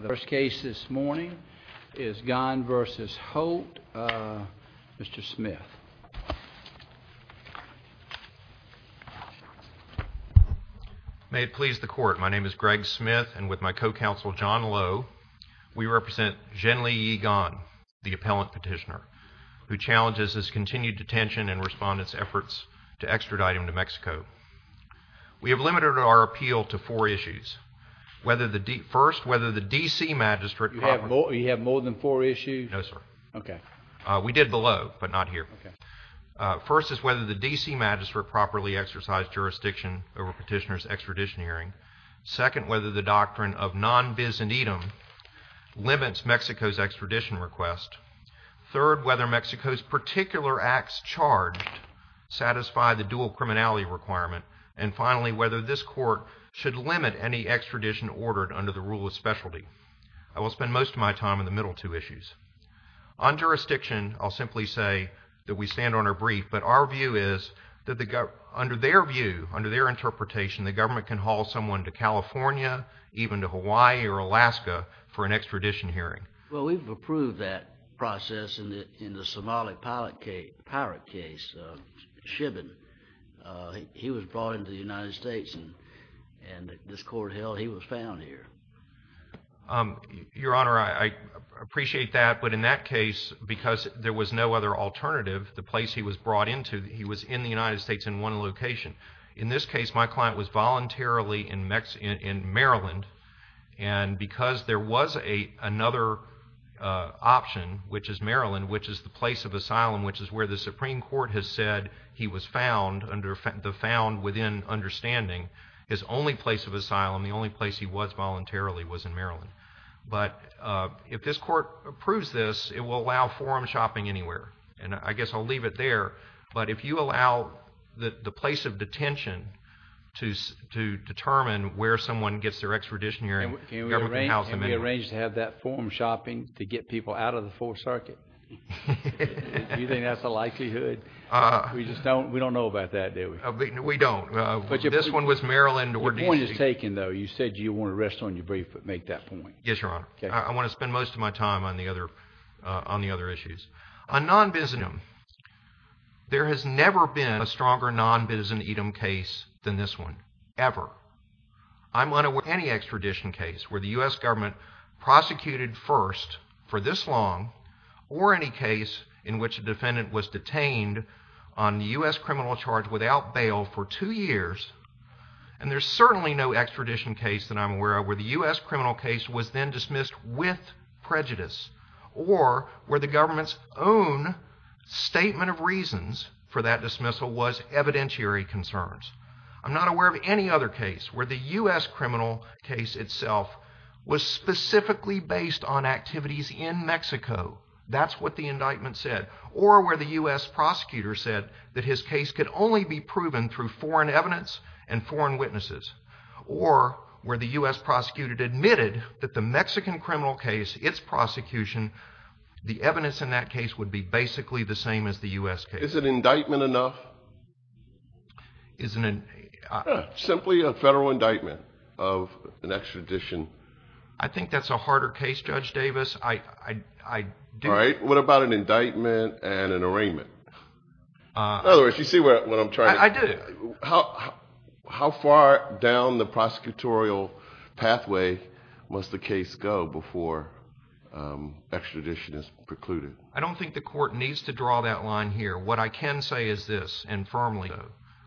The first case this morning is Gon v. Holt. Mr. Smith. May it please the court. My name is Greg Smith and with my co-counsel John Lowe. We represent Genli-Yi Gon, the appellant petitioner, who challenges his continued detention and respondents efforts to extradite him to Mexico. We have limited our appeal to four issues. First, whether the D.C. Magistrate... You have more than four issues? No, sir. Okay. We did below, but not here. First is whether the D.C. Magistrate properly exercised jurisdiction over petitioner's extradition hearing. Second, whether the doctrine of non- bis and edam limits Mexico's extradition request. Third, whether Mexico's particular acts charged satisfy the dual criminality requirement. And finally, whether this court should limit any extradition ordered under the rule of specialty. I will spend most of my time in the middle two issues. On jurisdiction, I'll simply say that we stand on our brief, but our view is that under their view, under their interpretation, the government can haul someone to California, even to Hawaii or Alaska for an extradition hearing. Well, we've approved that process in the Somali pirate case, Shibin. He was brought into the United States, and this court held he was found here. Your Honor, I appreciate that, but in that case, because there was no other alternative, the place he was brought into, he was in the United States in one location. In this case, my client was voluntarily in Maryland, and because there was another option, which is Maryland, which is the place of asylum, which is where the Supreme Court has said he was found under the understanding, his only place of asylum, the only place he was voluntarily, was in Maryland. But if this court approves this, it will allow forum shopping anywhere. And I guess I'll leave it there, but if you allow the place of detention to determine where someone gets their extradition hearing, the government can haul them in. Can we arrange to have that forum shopping to get people out of the Fourth Circuit? Do you think that's a likelihood? We don't know about that, do we? We don't. This one was Maryland. Your point is taken, though. You said you want to rest on your brief, but make that point. Yes, Your Honor. I want to spend most of my time on the other issues. On non-bizetum, there has never been a stronger non-bizetum case than this one, ever. I'm unaware of any extradition case where the U.S. government prosecuted first for this long, or any case in which a defendant was detained on the U.S. criminal charge without bail for two years, and there's certainly no extradition case that I'm aware of where the U.S. criminal case was then dismissed with prejudice, or where the government's own statement of reasons for that dismissal was evidentiary concerns. I'm not aware of any other case where the U.S. criminal case itself was specifically based on activities in Mexico. That's what the evidence in that case would be basically the same as the U.S. case. Is an indictment enough? Simply a federal indictment of an extradition. I think that's a harder case, Judge Davis. What about an indictment and an arraignment? In other words, you see what I'm trying to... I do. How far down the prosecutorial pathway must the case go before extradition is precluded? I don't think the court needs to draw that line here. What I can say is this, and firmly,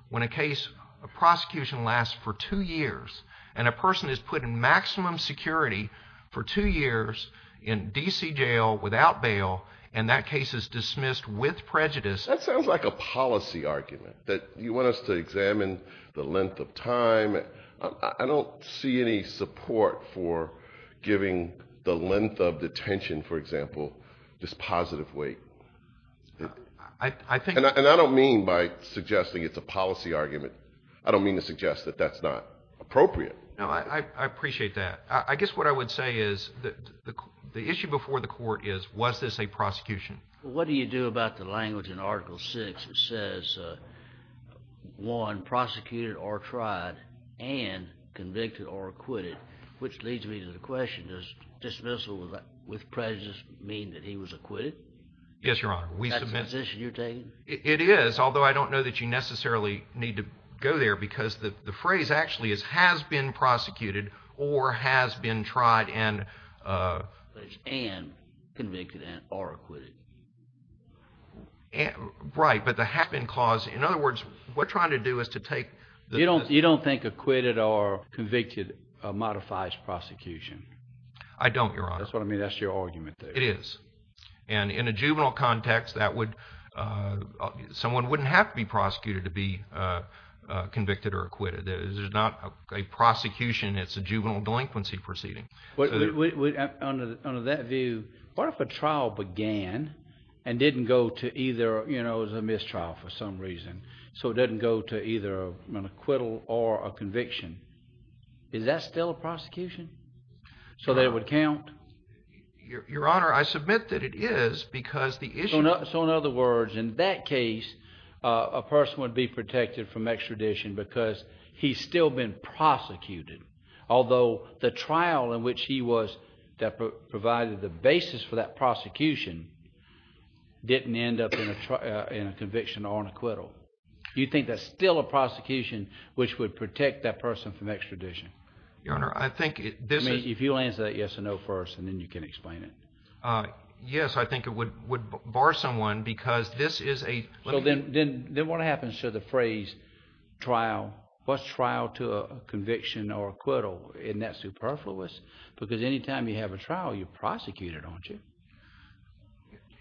when a case, a prosecution lasts for two years, and a person is put in maximum security for two years in D.C. jail without bail, and that case is dismissed with prejudice... That sounds like a policy argument, that you want us to examine the length of time. I don't see any support for giving the length of detention, for example, this positive weight. I think... And I don't mean by suggesting it's a policy argument. I don't mean to suggest that that's not appropriate. No, I appreciate that. I guess what I would say is that the issue before the court is, was this a prosecution? What do you do about the language in Article 6 that says, one, prosecuted or tried, and convicted or acquitted, which leads me to the question, does dismissal with prejudice mean that he was acquitted? Yes, Your Honor. Is that the position you're taking? It is, although I don't know that you necessarily need to go there, because the phrase actually is, has been prosecuted or has been tried and... And convicted or acquitted. Right, but the have-been clause, in other words, what we're trying to do is to take... You don't think acquitted or convicted modifies prosecution? I don't, Your Honor. That's what I mean, that's your argument there. It is, and in a juvenile context, someone wouldn't have to be prosecuted to be convicted or acquitted. There's not a prosecution, it's a juvenile delinquency proceeding. Under that view, what if a trial began and didn't go to either, you know, it was a mistrial for some reason, so it didn't go to either an acquittal or a conviction? Is that still a prosecution, so that it would count? Your Honor, I submit that it is, because the issue... So in other words, in that case, a person would be protected from extradition because he's still been prosecuted, although the trial in which he was, that provided the basis for that prosecution, didn't end up in a conviction or an acquittal. You think that's still a prosecution which would protect that person from extradition? Your Honor, I think this is... If you'll answer that yes or no first, and then you can explain it. Yes, I think it would bar someone, because this is a... Then what happens to the phrase, trial, what's trial to a conviction or acquittal, isn't that superfluous? Because any time you have a trial, you're prosecuted, aren't you?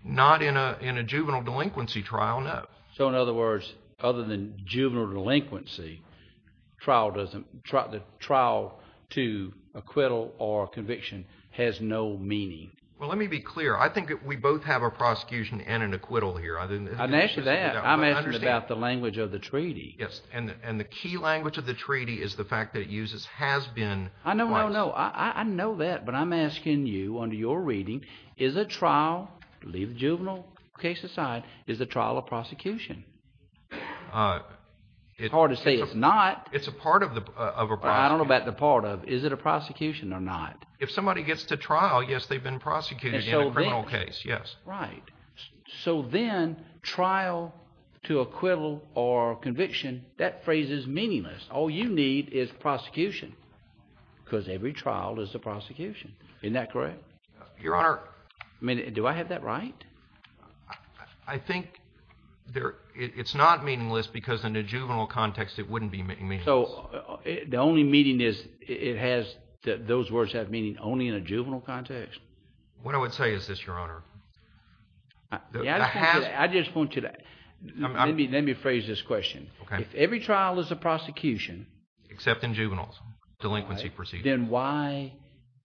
Not in a juvenile delinquency trial, no. So in other words, other than juvenile delinquency, the trial to acquittal or conviction has no meaning? Well, let me be clear. I think that we both have a prosecution and an acquittal here. I'm asking about the language of the treaty. Yes, and the key language of the treaty is the fact that it uses has been... I know that, but I'm asking you under your reading, is a trial, leave juvenile case aside, is a trial a prosecution? It's hard to say it's not. It's a part of a prosecution. I don't know about the part of, is it a prosecution or not? If somebody gets to trial, yes, they've been prosecuted in a criminal case, yes. Right. So then, trial to acquittal or conviction, that phrase is meaningless. All you need is prosecution, because every trial is a prosecution. Isn't that correct? Your Honor... I mean, do I have that right? I think it's not meaningless because in a juvenile context, it wouldn't be meaningless. So the only meaning is it has, those words have meaning only in a juvenile context? What I would say is this, Your Honor... I just want you to, let me phrase this question. If every trial is a prosecution... Except in juveniles, delinquency proceedings. Then why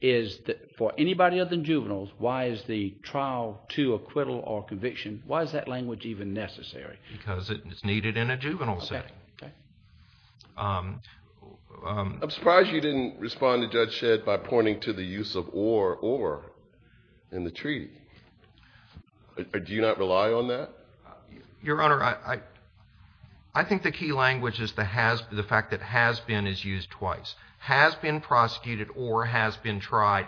is, for anybody other than juveniles, why is the trial to acquittal or conviction, why is that language even necessary? Because it's needed in a juvenile setting. Okay. I'm surprised you didn't respond to Judge Shedd by pointing to the use of or, or in the treaty. Do you not rely on that? Your Honor, I think the key language is the fact that has been is used twice. Has been prosecuted or has been tried.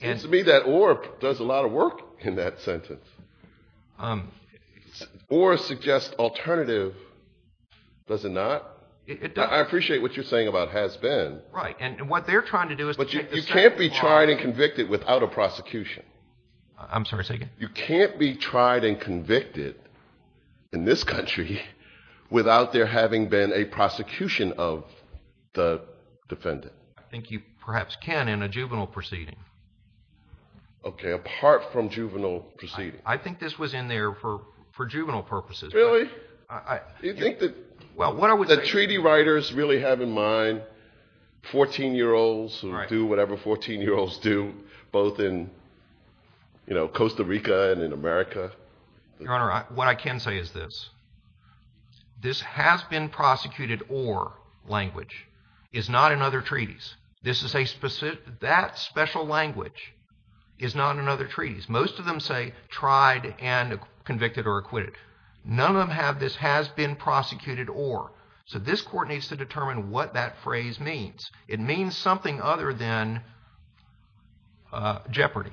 It seems to me that or does a lot of work in that sentence. Or suggests alternative, does it not? It does. I appreciate what you're saying about has been. Right, and what they're trying to do is... But you can't be tried and convicted without a prosecution. I'm sorry, say again? You can't be tried and convicted in this country without there having been a prosecution of the defendant. I think you perhaps can in a juvenile proceeding. Okay, apart from juvenile proceedings. I think this was in there for, for juvenile purposes. Really? I... You think that... Well, what I was saying... The treaty writers really have in mind 14-year-olds who do whatever 14-year-olds do. Both in, you know, Costa Rica and in America. Your Honor, what I can say is this. This has been prosecuted or language is not in other treaties. This is a specific, that special language is not in other treaties. Most of them say tried and convicted or acquitted. None of them have this has been prosecuted or. So this court needs to determine what that phrase means. It means something other than jeopardy.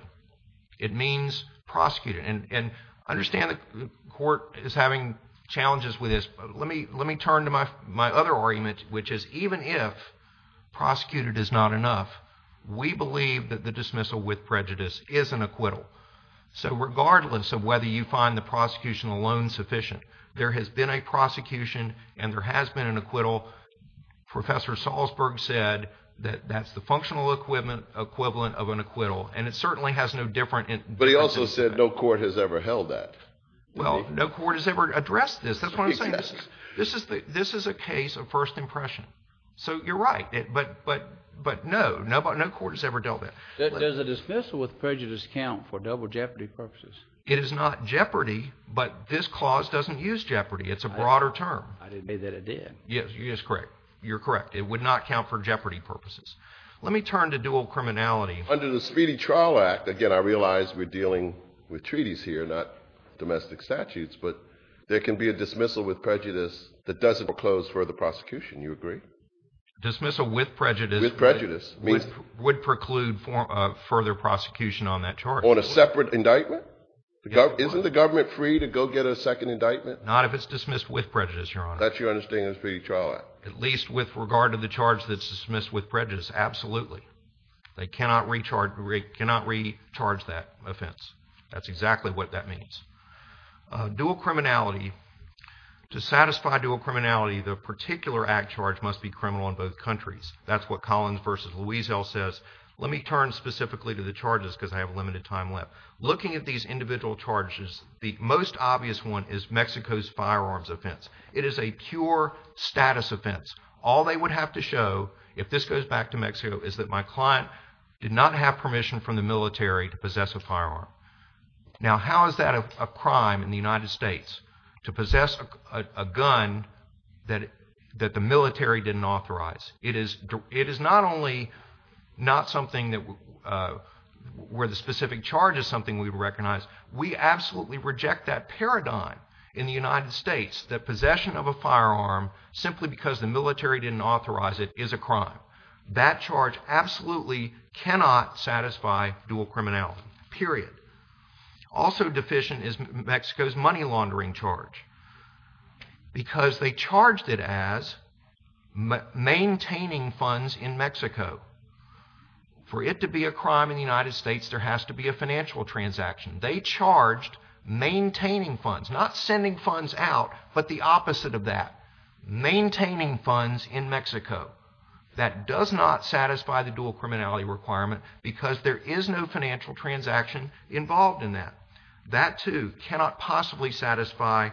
It means prosecuted. And understand the court is having challenges with this. Let me turn to my other argument, which is even if prosecuted is not enough, we believe that the dismissal with prejudice is an acquittal. So regardless of whether you find the prosecution alone sufficient, there has been a prosecution and there has been an acquittal. Professor Salzberg said that that's the functional equivalent of an acquittal. And it certainly has no different... But he also said no court has ever held that. Well, no court has ever addressed this. That's what I'm saying. This is a case of first impression. So you're right. But no, no court has ever dealt with it. Does a dismissal with prejudice count for double jeopardy purposes? It is not jeopardy, but this clause doesn't use jeopardy. It's a broader term. I didn't say that it did. Yes, you're correct. You're correct. It would not count for jeopardy purposes. Let me turn to dual criminality. Under the Speedy Trial Act, again, I realize we're dealing with treaties here, not domestic statutes, but there can be a dismissal with prejudice that doesn't close further prosecution. You agree? Dismissal with prejudice... With prejudice. Would preclude further prosecution on that charge. On a separate indictment? Isn't the government free to go get a second indictment? Not if it's dismissed with prejudice, Your Honor. That's your understanding of the Speedy Trial Act? At least with regard to the charge that's dismissed with prejudice, absolutely. They cannot recharge that offense. That's exactly what that means. Dual criminality. To satisfy dual criminality, the particular act charge must be criminal in both countries. That's what Collins v. Luisel says. Let me turn specifically to the charges because I have limited time left. Looking at these individual charges, the most obvious one is Mexico's firearms offense. It is a pure status offense. All they would have to show, if this goes back to Mexico, is that my client did not have permission from the military to possess a firearm. Now, how is that a crime in the United States, to possess a gun that the military didn't authorize? It is not something where the specific charge is something we would recognize. We absolutely reject that paradigm in the United States, that possession of a firearm, simply because the military didn't authorize it, is a crime. That charge absolutely cannot satisfy dual criminality. Period. Also deficient is Mexico's money laundering charge. Because they charged it as maintaining funds in Mexico. For it to be a crime in the United States, there has to be a financial transaction. They charged maintaining funds. Not sending funds out, but the opposite of that. Maintaining funds in Mexico. That does not satisfy the dual criminality requirement, because there is no financial transaction involved in that. That, too, cannot possibly satisfy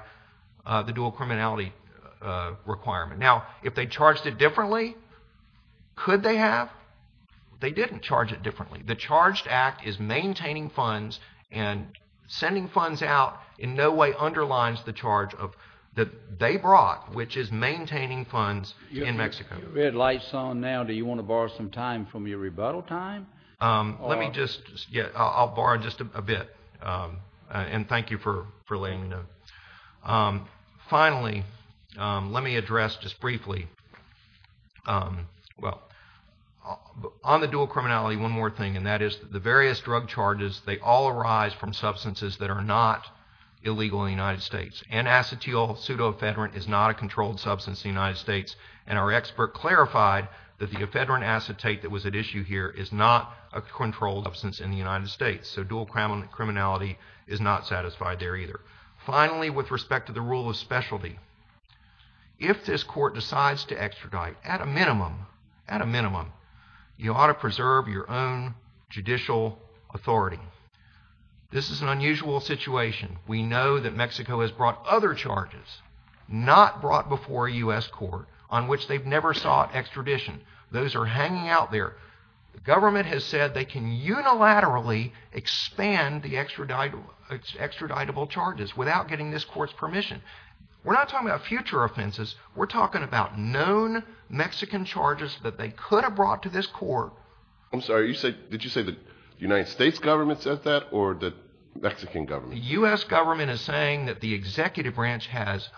the dual criminality requirement. Now, if they charged it differently, could they have? They didn't charge it differently. The charged act is maintaining funds, and sending funds out in no way underlines the charge that they brought, which is maintaining funds in Mexico. You've got your red lights on now. Do you want to borrow some time from your rebuttal time? I'll borrow just a bit. And thank you for letting me know. Finally, let me address just briefly, well, on the dual criminality, one more thing, and that is the various drug charges, they all arise from substances that are not illegal in the United States. Anacetyl pseudoephedrine is not a controlled substance in the United States, and our expert clarified that the ephedrine acetate that was at issue here is not a controlled substance in the United States, so dual criminality is not satisfied there either. Finally, with respect to the rule of specialty, if this court decides to extradite, at a minimum, you ought to preserve your own judicial authority. This is an unusual situation. We know that Mexico has brought other charges, not brought before a U.S. court, on which they've never sought extradition. Those are hanging out there. The government has said they can unilaterally expand the extraditable charges without getting this court's permission. We're not talking about future offenses, we're talking about known Mexican charges that they could have brought to this court. I'm sorry, did you say the United States government said that, or the Mexican government? The U.S. government is saying that the executive branch has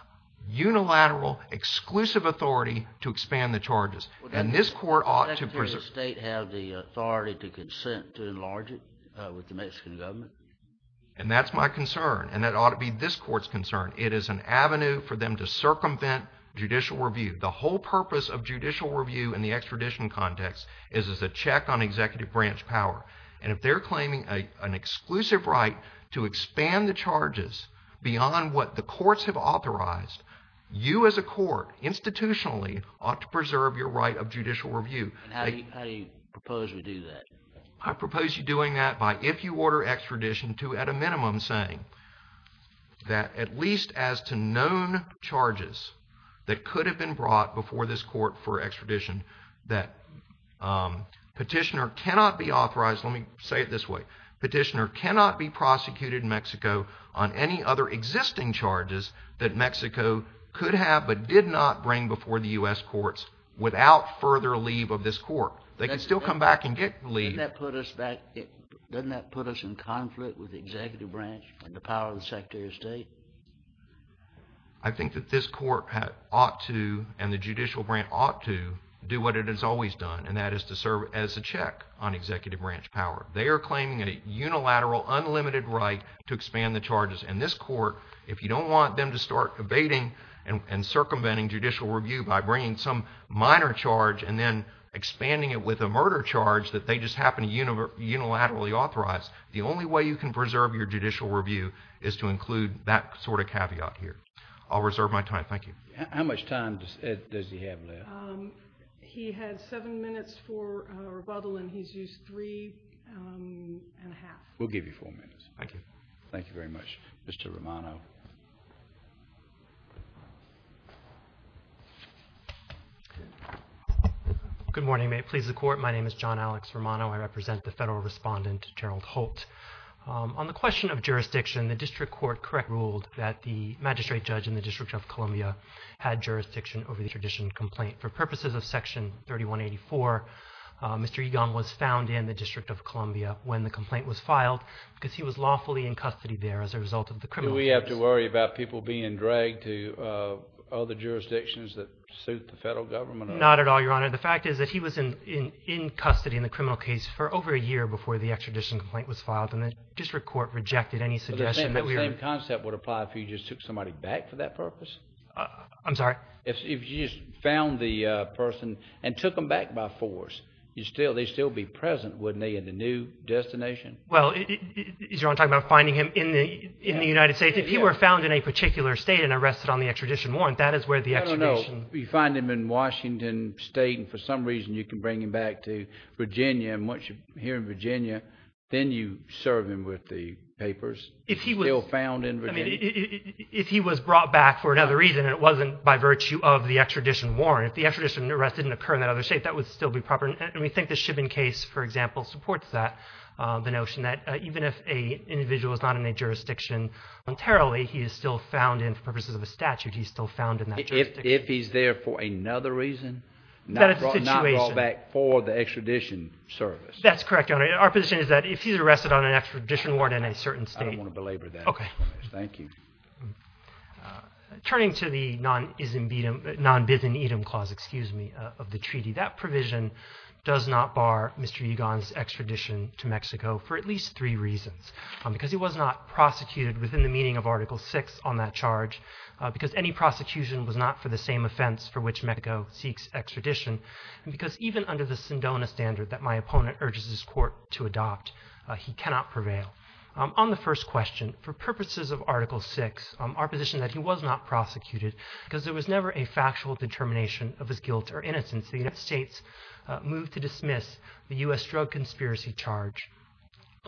unilateral, exclusive authority to expand the charges. Does the Secretary of State have the authority to consent to enlarge it with the Mexican government? That's my concern, and that ought to be this court's concern. It is an avenue for them to circumvent judicial review. The whole purpose of judicial review in the extradition context is as a check on executive branch power. If they're claiming an exclusive right to expand the charges beyond what the courts have authorized, you as a court, institutionally, ought to preserve your right of judicial review. How do you propose we do that? I propose you doing that by, if you order extradition, at a minimum saying that at least as to known charges that could have been brought before this court for extradition that petitioner cannot be authorized, let me say it this way, petitioner cannot be prosecuted in Mexico on any other existing charges that Mexico could have but did not bring before the U.S. courts without further leave of this court. They can still come back and get leave. Doesn't that put us in conflict with the executive branch and the power of the Secretary of State? I think that this court ought to, and the judicial branch ought to, do what it has always done, and that is to serve as a check on executive branch power. They are claiming a unilateral, unlimited right to expand the charges. And this court, if you don't want them to start evading and circumventing judicial review by bringing some minor charge and then expanding it with a murder charge that they just happen to unilaterally authorize, the only way you can preserve your judicial review is to include that sort of caveat here. I'll reserve my time. Thank you. How much time does he have left? He had seven minutes for rebuttal and he's used three and a half. We'll give you four minutes. Thank you very much. Mr. Romano. Good morning. May it please the Court, my name is John Alex Romano. I represent the Federal Respondent, Gerald Holt. On the question of jurisdiction, the District Court correctly ruled that the magistrate judge in the District of Columbia had jurisdiction over the tradition complaint. For purposes of Section 3184, Mr. Egon was found in the District of Columbia when the complaint was filed because he was lawfully in custody there as a result of the criminal case. Do we have to worry about people being dragged to other jurisdictions that suit the federal government? Not at all, Your Honor. The fact is that he was in custody in the criminal case for over a year before the extradition complaint was filed and the District Court rejected any suggestion that we were... But the same concept would apply if you just took somebody back for that purpose? I'm sorry? If you just found the person and took them back by force, they'd still be present, wouldn't they, in the new destination? Well, is Your Honor talking about finding him in the United States? If he were found in a particular state and arrested on the extradition warrant, that is where the extradition... I don't know. You find him in Washington State and for some reason you can bring him back to Virginia and once you're here in Virginia, then you serve him with the papers. If he was still found in Virginia. If he was brought back for another reason and it wasn't by virtue of the extradition warrant, if the extradition arrest didn't occur in that other state, that would still be proper. And we think the Chibbon case, for example, supports that, the notion that even if an individual is not in a jurisdiction entirely, he is still found in, for purposes of a statute, he's still found in that jurisdiction. If he's there for another reason, not brought back for the extradition service? That is the situation. Our position is that if he's arrested on an extradition warrant in a certain state... I don't want to belabor that. Thank you. Turning to the non-bizimitum clause of the treaty, that provision does not bar Mr. Ugon's extradition to Mexico for at least three reasons. Because he was not prosecuted within the meaning of Article 6 on that charge, because any prosecution was not for the same offense for which Mexico seeks extradition, and because even under the Sindona standard that my opponent urges his court to adopt, he cannot prevail. On the first question, for purposes of Article 6, our position is that he was not prosecuted because there was never a factual determination of his guilt or innocence. The United States moved to dismiss the U.S. drug conspiracy charge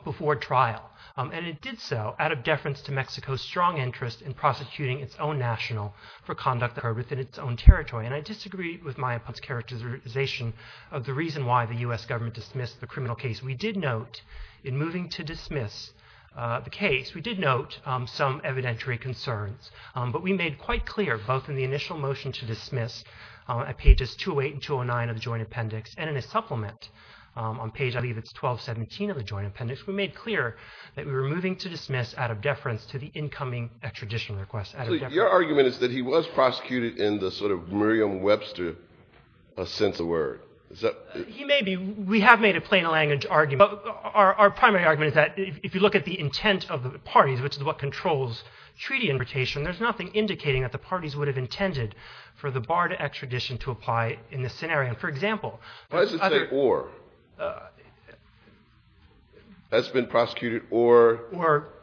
before trial. And it did so out of deference to Mexico's strong interest in prosecuting its own national for conduct that occurred within its own territory. And I disagree with my opponent's characterization of the reason why the U.S. government dismissed the criminal case. We did note, in moving to dismiss the case, we did note some evidentiary concerns. But we made quite clear, both in the initial motion to dismiss at pages 208 and 209 of the Joint Appendix, and in a supplement on page 1217 of the Joint Appendix, we made clear that we were moving to dismiss out of deference to the incoming extradition request. So your argument is that he was prosecuted in the sort of Merriam-Webster sense of word? He may be. We have made a plain language argument. Our primary argument is that if you look at the intent of the parties, which is what controls treaty invitation, there's nothing indicating that the parties would have intended for the bar to extradition to apply in this scenario. Why does it say or? Has been prosecuted or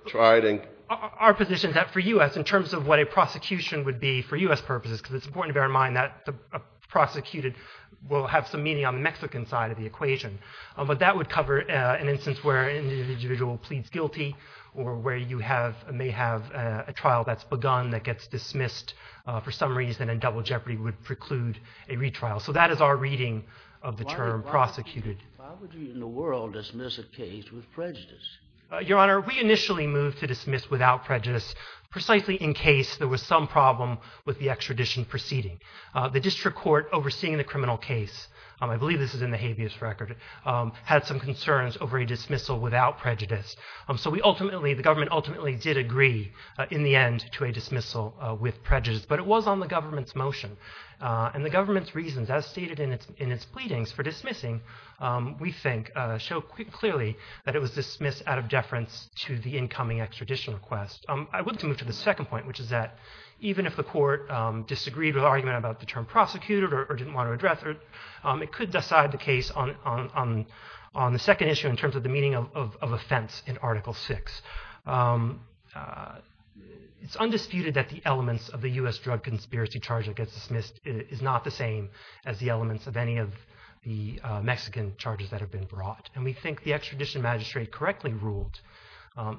tried? Our position is that for U.S., in terms of what a prosecution would be for U.S. purposes, because it's important to bear in mind that the prosecuted will have some meaning on the Mexican side of the equation, but that would cover an instance where an individual pleads guilty or where you may have a trial that's begun that gets dismissed for some reason and Double Jeopardy would preclude a retrial. So that is our reading of the term prosecuted. Why would you in the world dismiss a case with prejudice? Your Honor, we initially moved to dismiss without prejudice precisely in case there was some problem with the extradition proceeding. The district court overseeing the criminal case, I believe this is in the habeas record, had some concerns over a dismissal without prejudice. So the government ultimately did agree in the end to a dismissal with prejudice, but it was on the government's motion and the government's reasons, as stated in its pleadings for dismissing, we think show clearly that it was dismissed out of deference to the incoming extradition request. I would like to move to the second point, which is that even if the court disagreed with the argument about the term prosecuted or didn't want to address it, it could decide the case on the second issue in terms of the meaning of offense in Article VI. It's undisputed that the elements of the U.S. drug conspiracy charge that gets dismissed is not the same as the elements of any of the Mexican charges that have been brought. And we think the extradition magistrate correctly ruled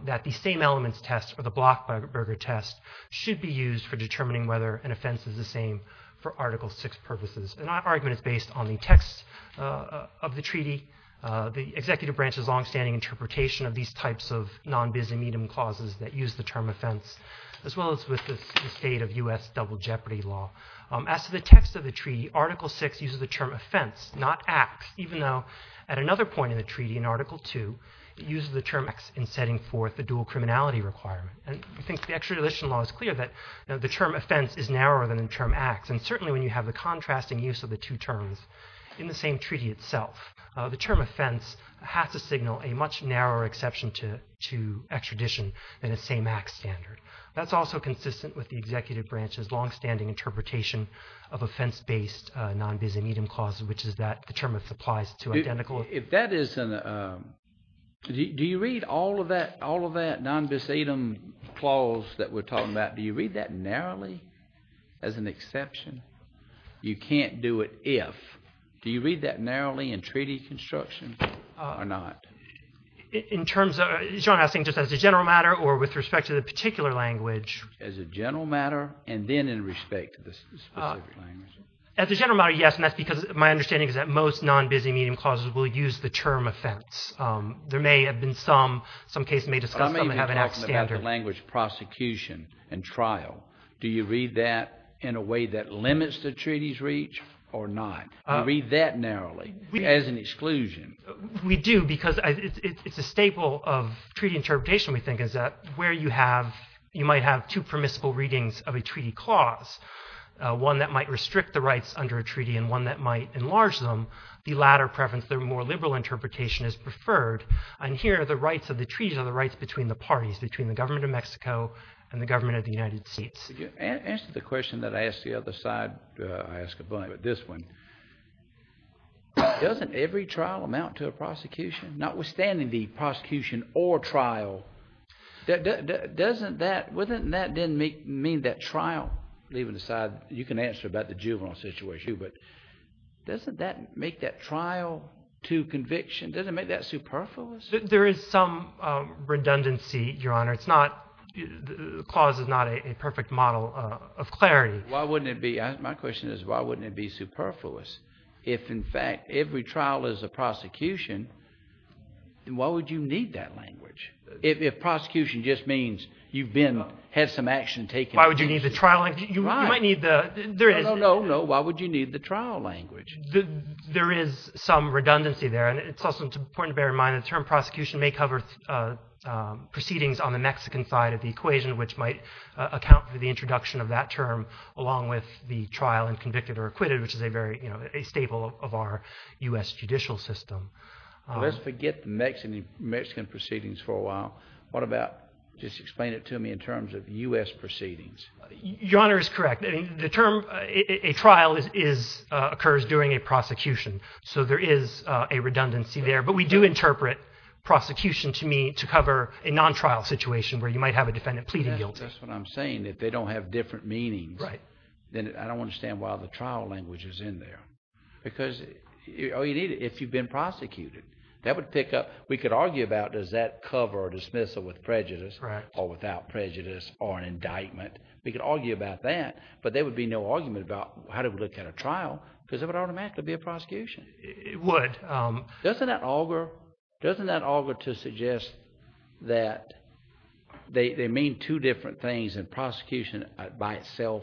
that the same elements test or the Blockberger test should be used for determining whether an offense is the same for Article VI purposes. And that argument is based on the text of the treaty, the executive branch's longstanding interpretation of these types of non-biz and medium clauses that use the term offense, as well as with the state of U.S. double jeopardy law. As to the text of the treaty, Article VI uses the term offense, not acts, even though at another point in the treaty, in Article II, it uses the term acts in setting forth the dual criminality requirement. And we think the extradition law is clear that the term offense is narrower than the term acts. And certainly when you have the contrasting use of the two terms in the same treaty itself, the term offense has to signal a much narrower exception to extradition than the same acts standard. That's also consistent with the executive branch's longstanding interpretation of offense-based non-biz and medium clauses, which is that the term offense applies to identical... Do you read all of that non-biz item clause that we're talking about, do you read that narrowly as an exception? You can't do it if. Do you read that narrowly in treaty construction or not? In terms of... John, I think just as a general matter or with respect to the particular language... As a general matter, yes, and that's because my understanding is that most non-biz and medium clauses will use the term offense. I may be talking about the language prosecution and trial. Do you read that in a way that limits the treaty's reach or not? Read that narrowly as an exclusion. We do, because it's a staple of treaty interpretation, we think, is that where you have... You might have two permissible readings of a treaty clause, one that might restrict the rights under a treaty and one that might enlarge them. The latter preference, the more liberal interpretation, is preferred, and here the rights of the treaty are the rights between the parties, between the government of Mexico and the government of the United States. To answer the question that I asked the other side, doesn't every trial amount to a prosecution? Notwithstanding the prosecution or trial, doesn't that... That didn't mean that trial... You can answer about the juvenile situation, but doesn't that make that trial to conviction, doesn't it make that superfluous? There is some redundancy, Your Honor. The clause is not a perfect model of clarity. Why wouldn't it be? My question is, why wouldn't it be superfluous if, in fact, every trial is a prosecution? Then why would you need that language? If prosecution just means you've had some action taken... Why would you need the trial language? No, no, no, why would you need the trial language? There is some redundancy there. It's also important to bear in mind that the term prosecution may cover proceedings on the Mexican side of the equation, which might account for the introduction of that term along with the trial and convicted or acquitted, which is a staple of our U.S. judicial system. Let's forget the Mexican proceedings for a while. Just explain it to me in terms of U.S. proceedings. Your Honor is correct. A trial occurs during a prosecution, so there is a redundancy there. But we do interpret prosecution to mean to cover a non-trial situation where you might have a defendant pleading guilty. That's what I'm saying. If they don't have different meanings, then I don't understand why the trial language is in there. If you've been prosecuted, we could argue about does that cover dismissal with prejudice or without prejudice or an indictment. We could argue about that, but there would be no argument about how to look at a trial because it would automatically be a prosecution. Doesn't that augur to suggest that they mean two different things and prosecution by itself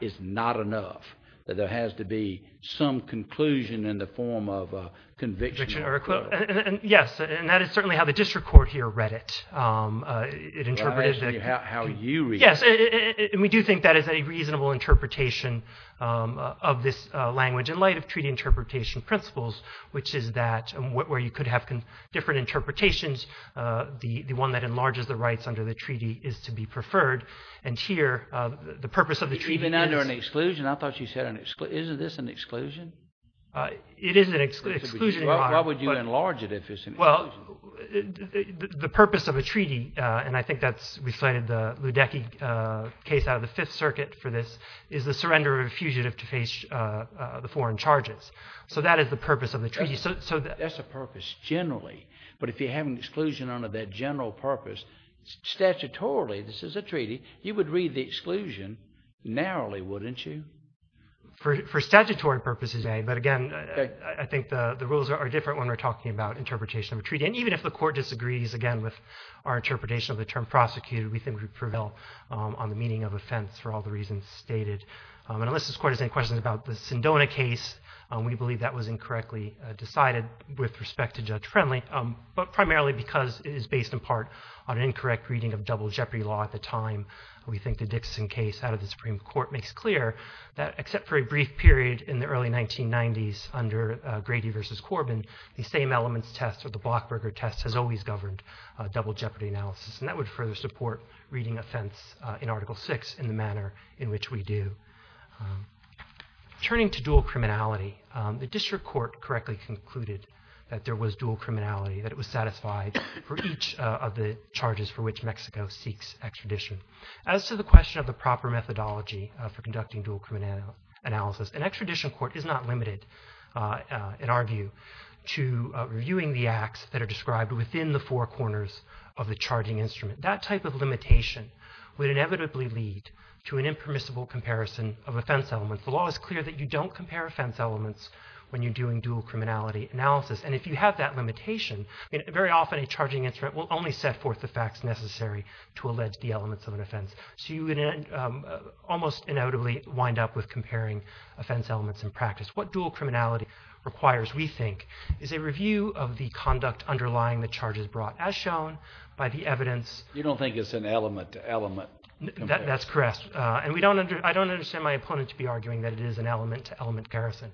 is not enough? That there has to be some conclusion in the form of conviction or acquittal. Yes, and that is certainly how the district court here read it. I'm asking you how you read it. We do think that is a reasonable interpretation of this language in light of treaty interpretation principles which is that where you could have different interpretations, the one that enlarges the rights under the treaty is to be preferred. Even under an exclusion? Isn't this an exclusion? It is an exclusion. Why would you enlarge it if it's an exclusion? The purpose of a treaty, and I think we've cited the Ludecky case out of the Fifth Circuit for this, is the surrender of a fugitive to face the foreign charges. That's a purpose generally, but if you have an exclusion under that general purpose, statutorily, this is a treaty, you would read the exclusion narrowly, wouldn't you? For statutory purposes, yes, but I think the rules are different when we're talking about interpretation of a treaty. Even if the court disagrees with our interpretation of the term prosecuted, we think we prevail on the meaning of offense for all the reasons stated. Unless this court has any questions about the Sindona case, we believe that was incorrectly decided with respect to Judge Friendly, but primarily because it is based in part on an incorrect reading of double jeopardy law at the time. We think the Dixon case out of the Supreme Court makes clear that except for a brief period in the early 1990s under Grady v. Corbin, the same elements test or the Blockberger test has always governed double jeopardy analysis and that would further support reading offense in Article VI in the manner in which we do. Turning to dual criminality, the District Court correctly concluded that there was dual criminality, that it was satisfied for each of the charges for which Mexico seeks extradition. As to the question of the proper methodology for conducting dual criminality analysis, an extradition court is not limited in our view to reviewing the acts that are described within the four corners of the charging instrument. That type of limitation would inevitably lead to an impermissible comparison of offense elements. The law is clear that you don't compare offense elements when you're doing dual criminality analysis and if you have that limitation, very often a charging instrument will only set forth the facts necessary to allege the elements of an offense. So you almost inevitably wind up with comparing offense elements in practice. What dual criminality requires, we think, is a review of the conduct underlying the charges brought as shown by the evidence... You don't think it's an element-to-element comparison? That's correct. I don't understand my opponent to be arguing that it is an element-to-element comparison.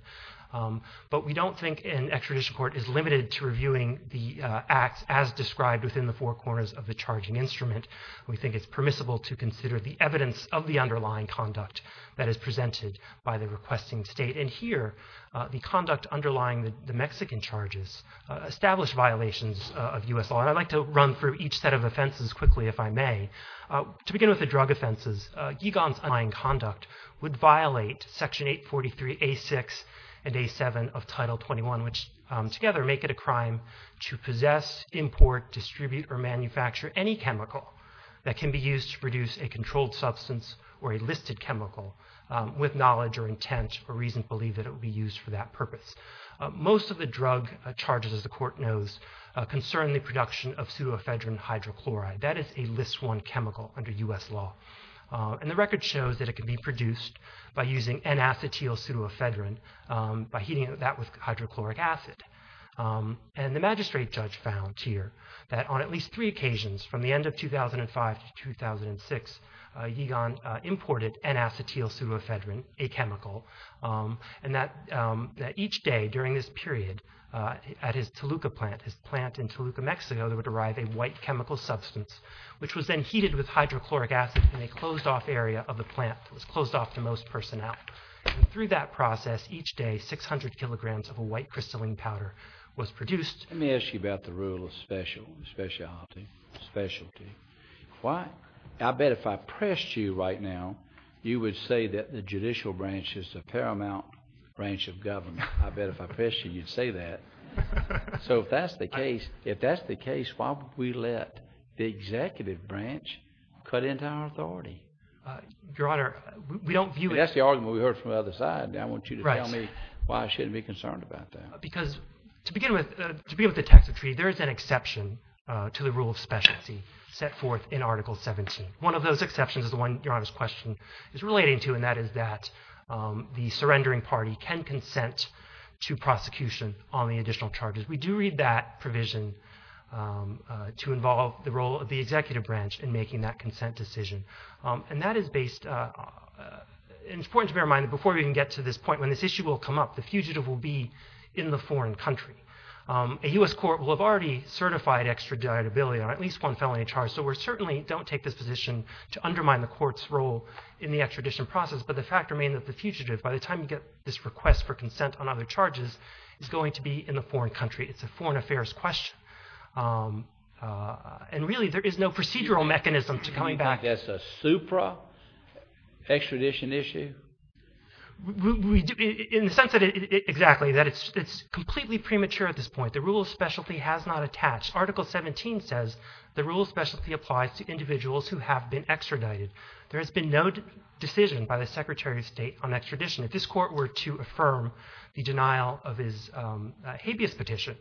But we don't think an extradition court is limited to reviewing the acts as described within the four corners of the charging instrument. We think it's permissible to consider the evidence of the underlying conduct that is presented by the requesting state. Here, the conduct underlying the Mexican charges established violations of U.S. law. I'd like to run through each set of offenses quickly, if I may. To begin with the drug offenses, Gigan's underlying conduct would violate Section 843A6 and A7 of Title 21, which together make it a crime to possess, import, distribute, or manufacture any chemical that can be used to produce a controlled substance or a listed chemical with knowledge or intent or reason to believe that it would be used for that purpose. Most of the drug charges, as the Court knows, concern the production of pseudoephedrine hydrochloride. That is a List I chemical under U.S. law. The record shows that it can be produced by using N-acetyl pseudoephedrine by heating that with hydrochloric acid. The magistrate judge found here that on at least three occasions, from the end of 2005 to 2006, Gigan imported N-acetyl pseudoephedrine, a chemical, and that each day during this period at his Toluca plant, his plant in Toluca, Mexico, there would arrive a white chemical substance which was then heated with hydrochloric acid in a closed-off area of the plant that was closed off to most personnel. Through that process, each day, 600 kilograms of a white crystalline powder was produced. Let me ask you about the rule of specialty. Why? I bet if I pressed you right now, you would say that the judicial branch is a paramount branch of government. I bet if I pressed you, you'd say that. So if that's the case, why would we let the executive branch cut into our authority? Your Honor, we don't view it... That's the argument we heard from the other side. I want you to tell me why I shouldn't be concerned about that. To begin with the text of the treaty, there is an exception to the rule of specialty set forth in Article 17. One of those exceptions is the one Your Honor's question is relating to, and that is that the surrendering party can consent to prosecution on the additional charges. We do read that provision to involve the role of the executive branch in making that consent decision. And that is based... It's important to bear in mind that before we even get to this point, when this issue will come up, the fugitive will be in the foreign country. A U.S. court will have already certified extraditability on at least one felony charge, so we certainly don't take this position to undermine the court's role in the extradition process, but the fact remains that the fugitive, by the time you get this request for consent on other charges, is going to be in the foreign country. It's a foreign affairs question. And really, there is no procedural mechanism to coming back... You mean that's a supra-extradition issue? In the sense that... Exactly, that it's completely premature at this point. The rule of specialty has not attached. Article 17 says the rule of specialty applies to individuals who have been extradited. There has been no decision by the Secretary of State on extradition. If this court were to affirm the denial of his habeas petition,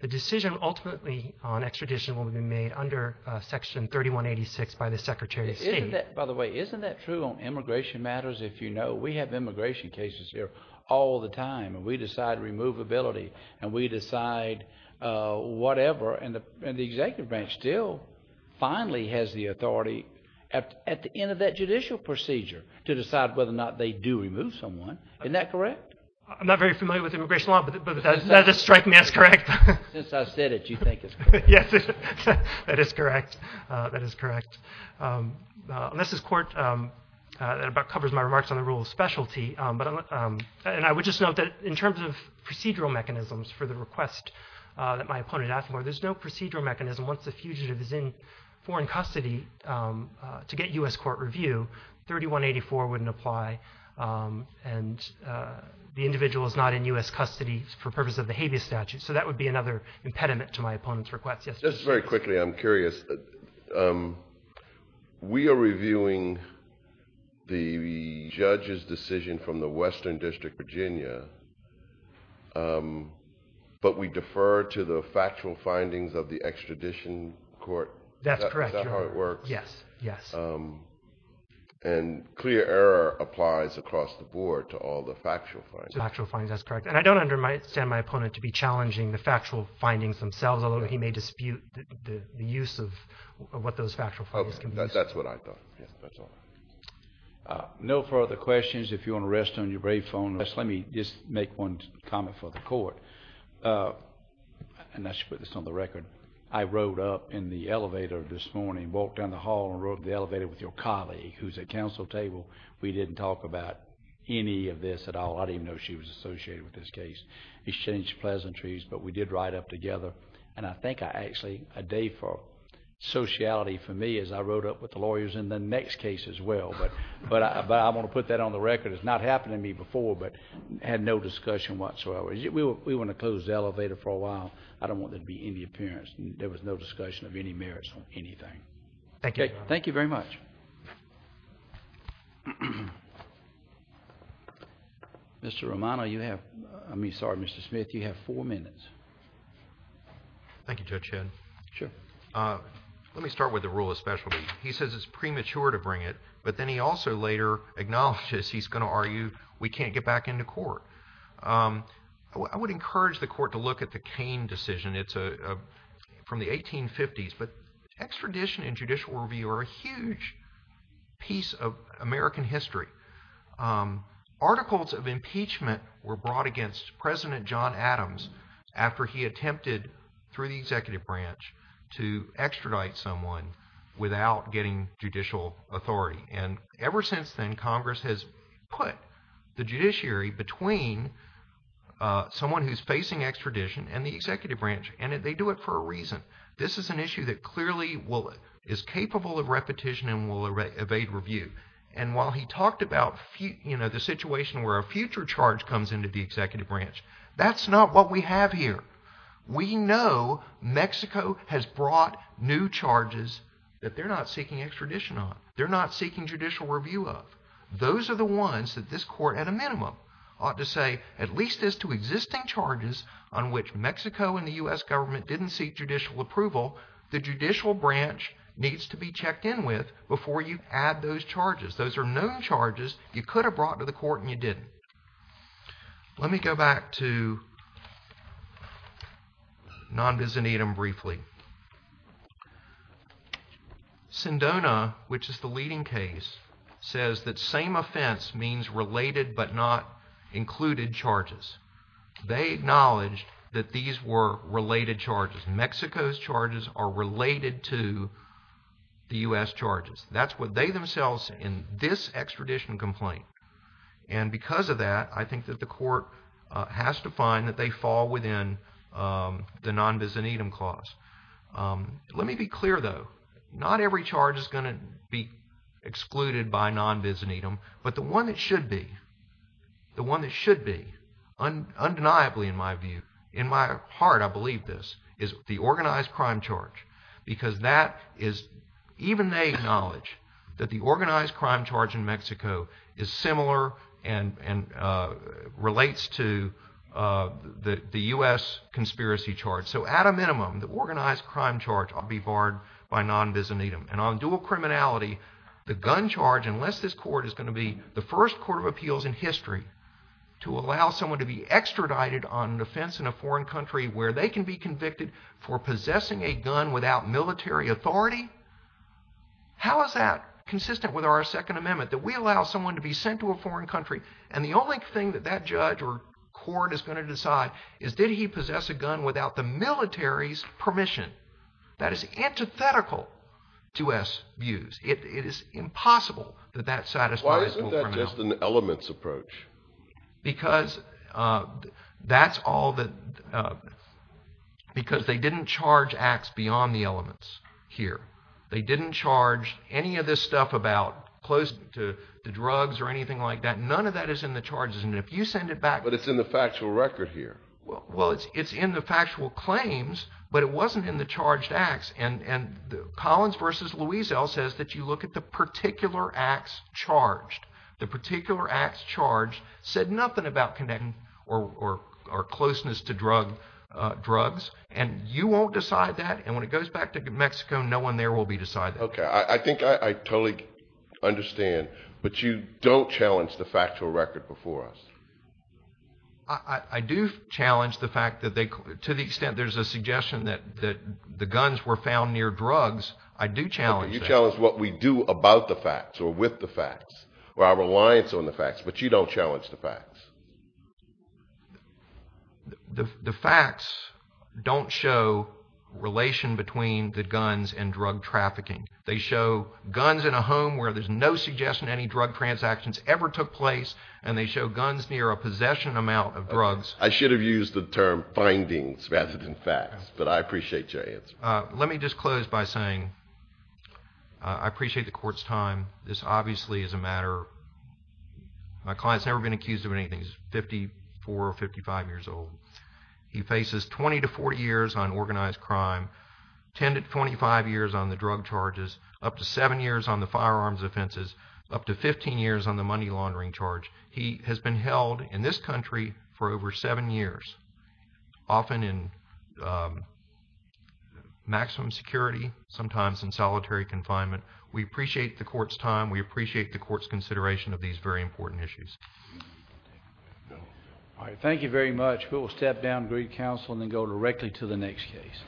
the decision ultimately on extradition will be made under Section 3186 by the Secretary of State. By the way, isn't that true on immigration matters? If you know, we have immigration cases here all the time, and we decide removability, and we decide whatever, and the executive branch still finally has the authority at the end of that judicial procedure to decide whether or not they do remove someone. Isn't that correct? I'm not very familiar with immigration law, but that doesn't strike me as correct. Since I said it, you think it's correct. That is correct. Unless this court covers my remarks on the rule of specialty, and I would just note that in terms of procedural mechanisms for the request that my opponent asked for, there's no procedural mechanism once a fugitive is in foreign custody to get U.S. court review. 3184 wouldn't apply, and the individual is not in U.S. custody for purposes of the habeas statute. So that would be another impediment to my opponent's request. Just very quickly, I'm curious. We are reviewing the judge's decision from the Western District of Virginia, but we defer to the factual findings of the extradition court. That's correct. And clear error applies across the board to all the factual findings. That's correct. And I don't understand my opponent to be challenging the factual findings themselves, although he may dispute the use of what those factual findings can be used for. That's what I thought. No further questions. If you want to rest on your brave phone, let me just make one comment for the court. And I should put this on the record. I rode up in the elevator this morning, walked down the hall and rode up the elevator with your colleague, who's at counsel table. We didn't talk about any of this at all. I didn't even know she was associated with this case. Exchange pleasantries, but we did ride up together. And I think I actually... a day for sociality for me as I rode up with the lawyers in the next case as well. But I want to put that on the record. It's not happened to me before, but had no discussion whatsoever. We were in a closed elevator for a while. I don't want there to be any appearance. There was no discussion of any merits on anything. Thank you very much. Mr. Romano, you have... I mean, sorry, Mr. Smith. You have four minutes. Thank you, Judge Henn. Let me start with the rule of specialty. He says it's premature to bring it, but then he also later acknowledges he's going to argue we can't get back into court. I would encourage the court to look at the Cain decision. It's from the 1850s, but extradition and judicial review are a huge piece of American history. Articles of impeachment were brought against President John Adams after he attempted, through the executive branch, to extradite someone without getting judicial authority. Ever since then, Congress has put the judiciary between someone who's facing extradition and the executive branch, and they do it for a reason. This is an issue that clearly is capable of repetition and will evade review. While he talked about the situation where a future charge comes into the executive branch, that's not what we have here. We know Mexico has brought new charges that they're not seeking extradition on. They're not seeking judicial review of. Those are the ones that this court, at a minimum, ought to say, at least as to existing charges on which Mexico and the U.S. government didn't seek judicial approval, the judicial branch needs to be checked in with before you add those charges. Those are known charges you could have brought to the court and you didn't. Let me go back to non-bizanitim briefly. Sindona, which is the leading case, says that same offense means related but not included charges. They acknowledged that these were related charges. Mexico's charges are related to the U.S. charges. That's what they themselves say in this extradition complaint. Because of that, I think that the court has to find that they fall within the non-bizanitim clause. Let me be clear, though. Not every charge is going to be excluded by non-bizanitim, but the one that should be, the one that should be, undeniably, in my view, in my heart, I believe this, is the organized crime charge. Because that is, even they acknowledge, that the organized crime charge in Mexico is similar and relates to the U.S. conspiracy charge. So at a minimum, the organized crime charge ought to be barred by non-bizanitim. And on dual criminality, the gun charge, unless this court is going to be the first court of appeals in history to allow someone to be extradited on an offense in a foreign country where they can be convicted for possessing a gun without military authority, how is that consistent with our Second Amendment, that we allow someone to be sent to a foreign country, and the only thing that that judge or court is going to decide is did he possess a gun without the military's permission. That is antithetical to U.S. views. It is impossible that that satisfies dual criminality. Why isn't that just an elements approach? Because that's all that, because they didn't charge acts beyond the elements here. They didn't charge any of this stuff about close to drugs or anything like that. None of that is in the charges. And if you send it back… But it's in the factual record here. Well, it's in the factual claims, but it wasn't in the charged acts. And Collins v. Luisel says that you look at the particular acts charged. The particular acts charged said nothing about connecting or closeness to drugs, and you won't decide that, and when it goes back to Mexico, no one there will be deciding that. Okay, I think I totally understand, but you don't challenge the factual record before us. I do challenge the fact that they, to the extent there's a suggestion that the guns were found near drugs, I do challenge that. I do challenge what we do about the facts, or with the facts, or our reliance on the facts, but you don't challenge the facts. The facts don't show relation between the guns and drug trafficking. They show guns in a home where there's no suggestion any drug transactions ever took place, and they show guns near a possession amount of drugs. I should have used the term findings rather than facts, but I appreciate your answer. Let me just close by saying I appreciate the court's time. This obviously is a matter, my client's never been accused of anything. He's 54 or 55 years old. He faces 20 to 40 years on organized crime, 10 to 25 years on the drug charges, up to 7 years on the firearms offenses, up to 15 years on the money laundering charge. He has been held in this country for over 7 years, often in maximum security, sometimes in solitary confinement. We appreciate the court's time. We appreciate the court's consideration of these very important issues. All right, thank you very much. We will step down, greet counsel, and then go directly to the next case.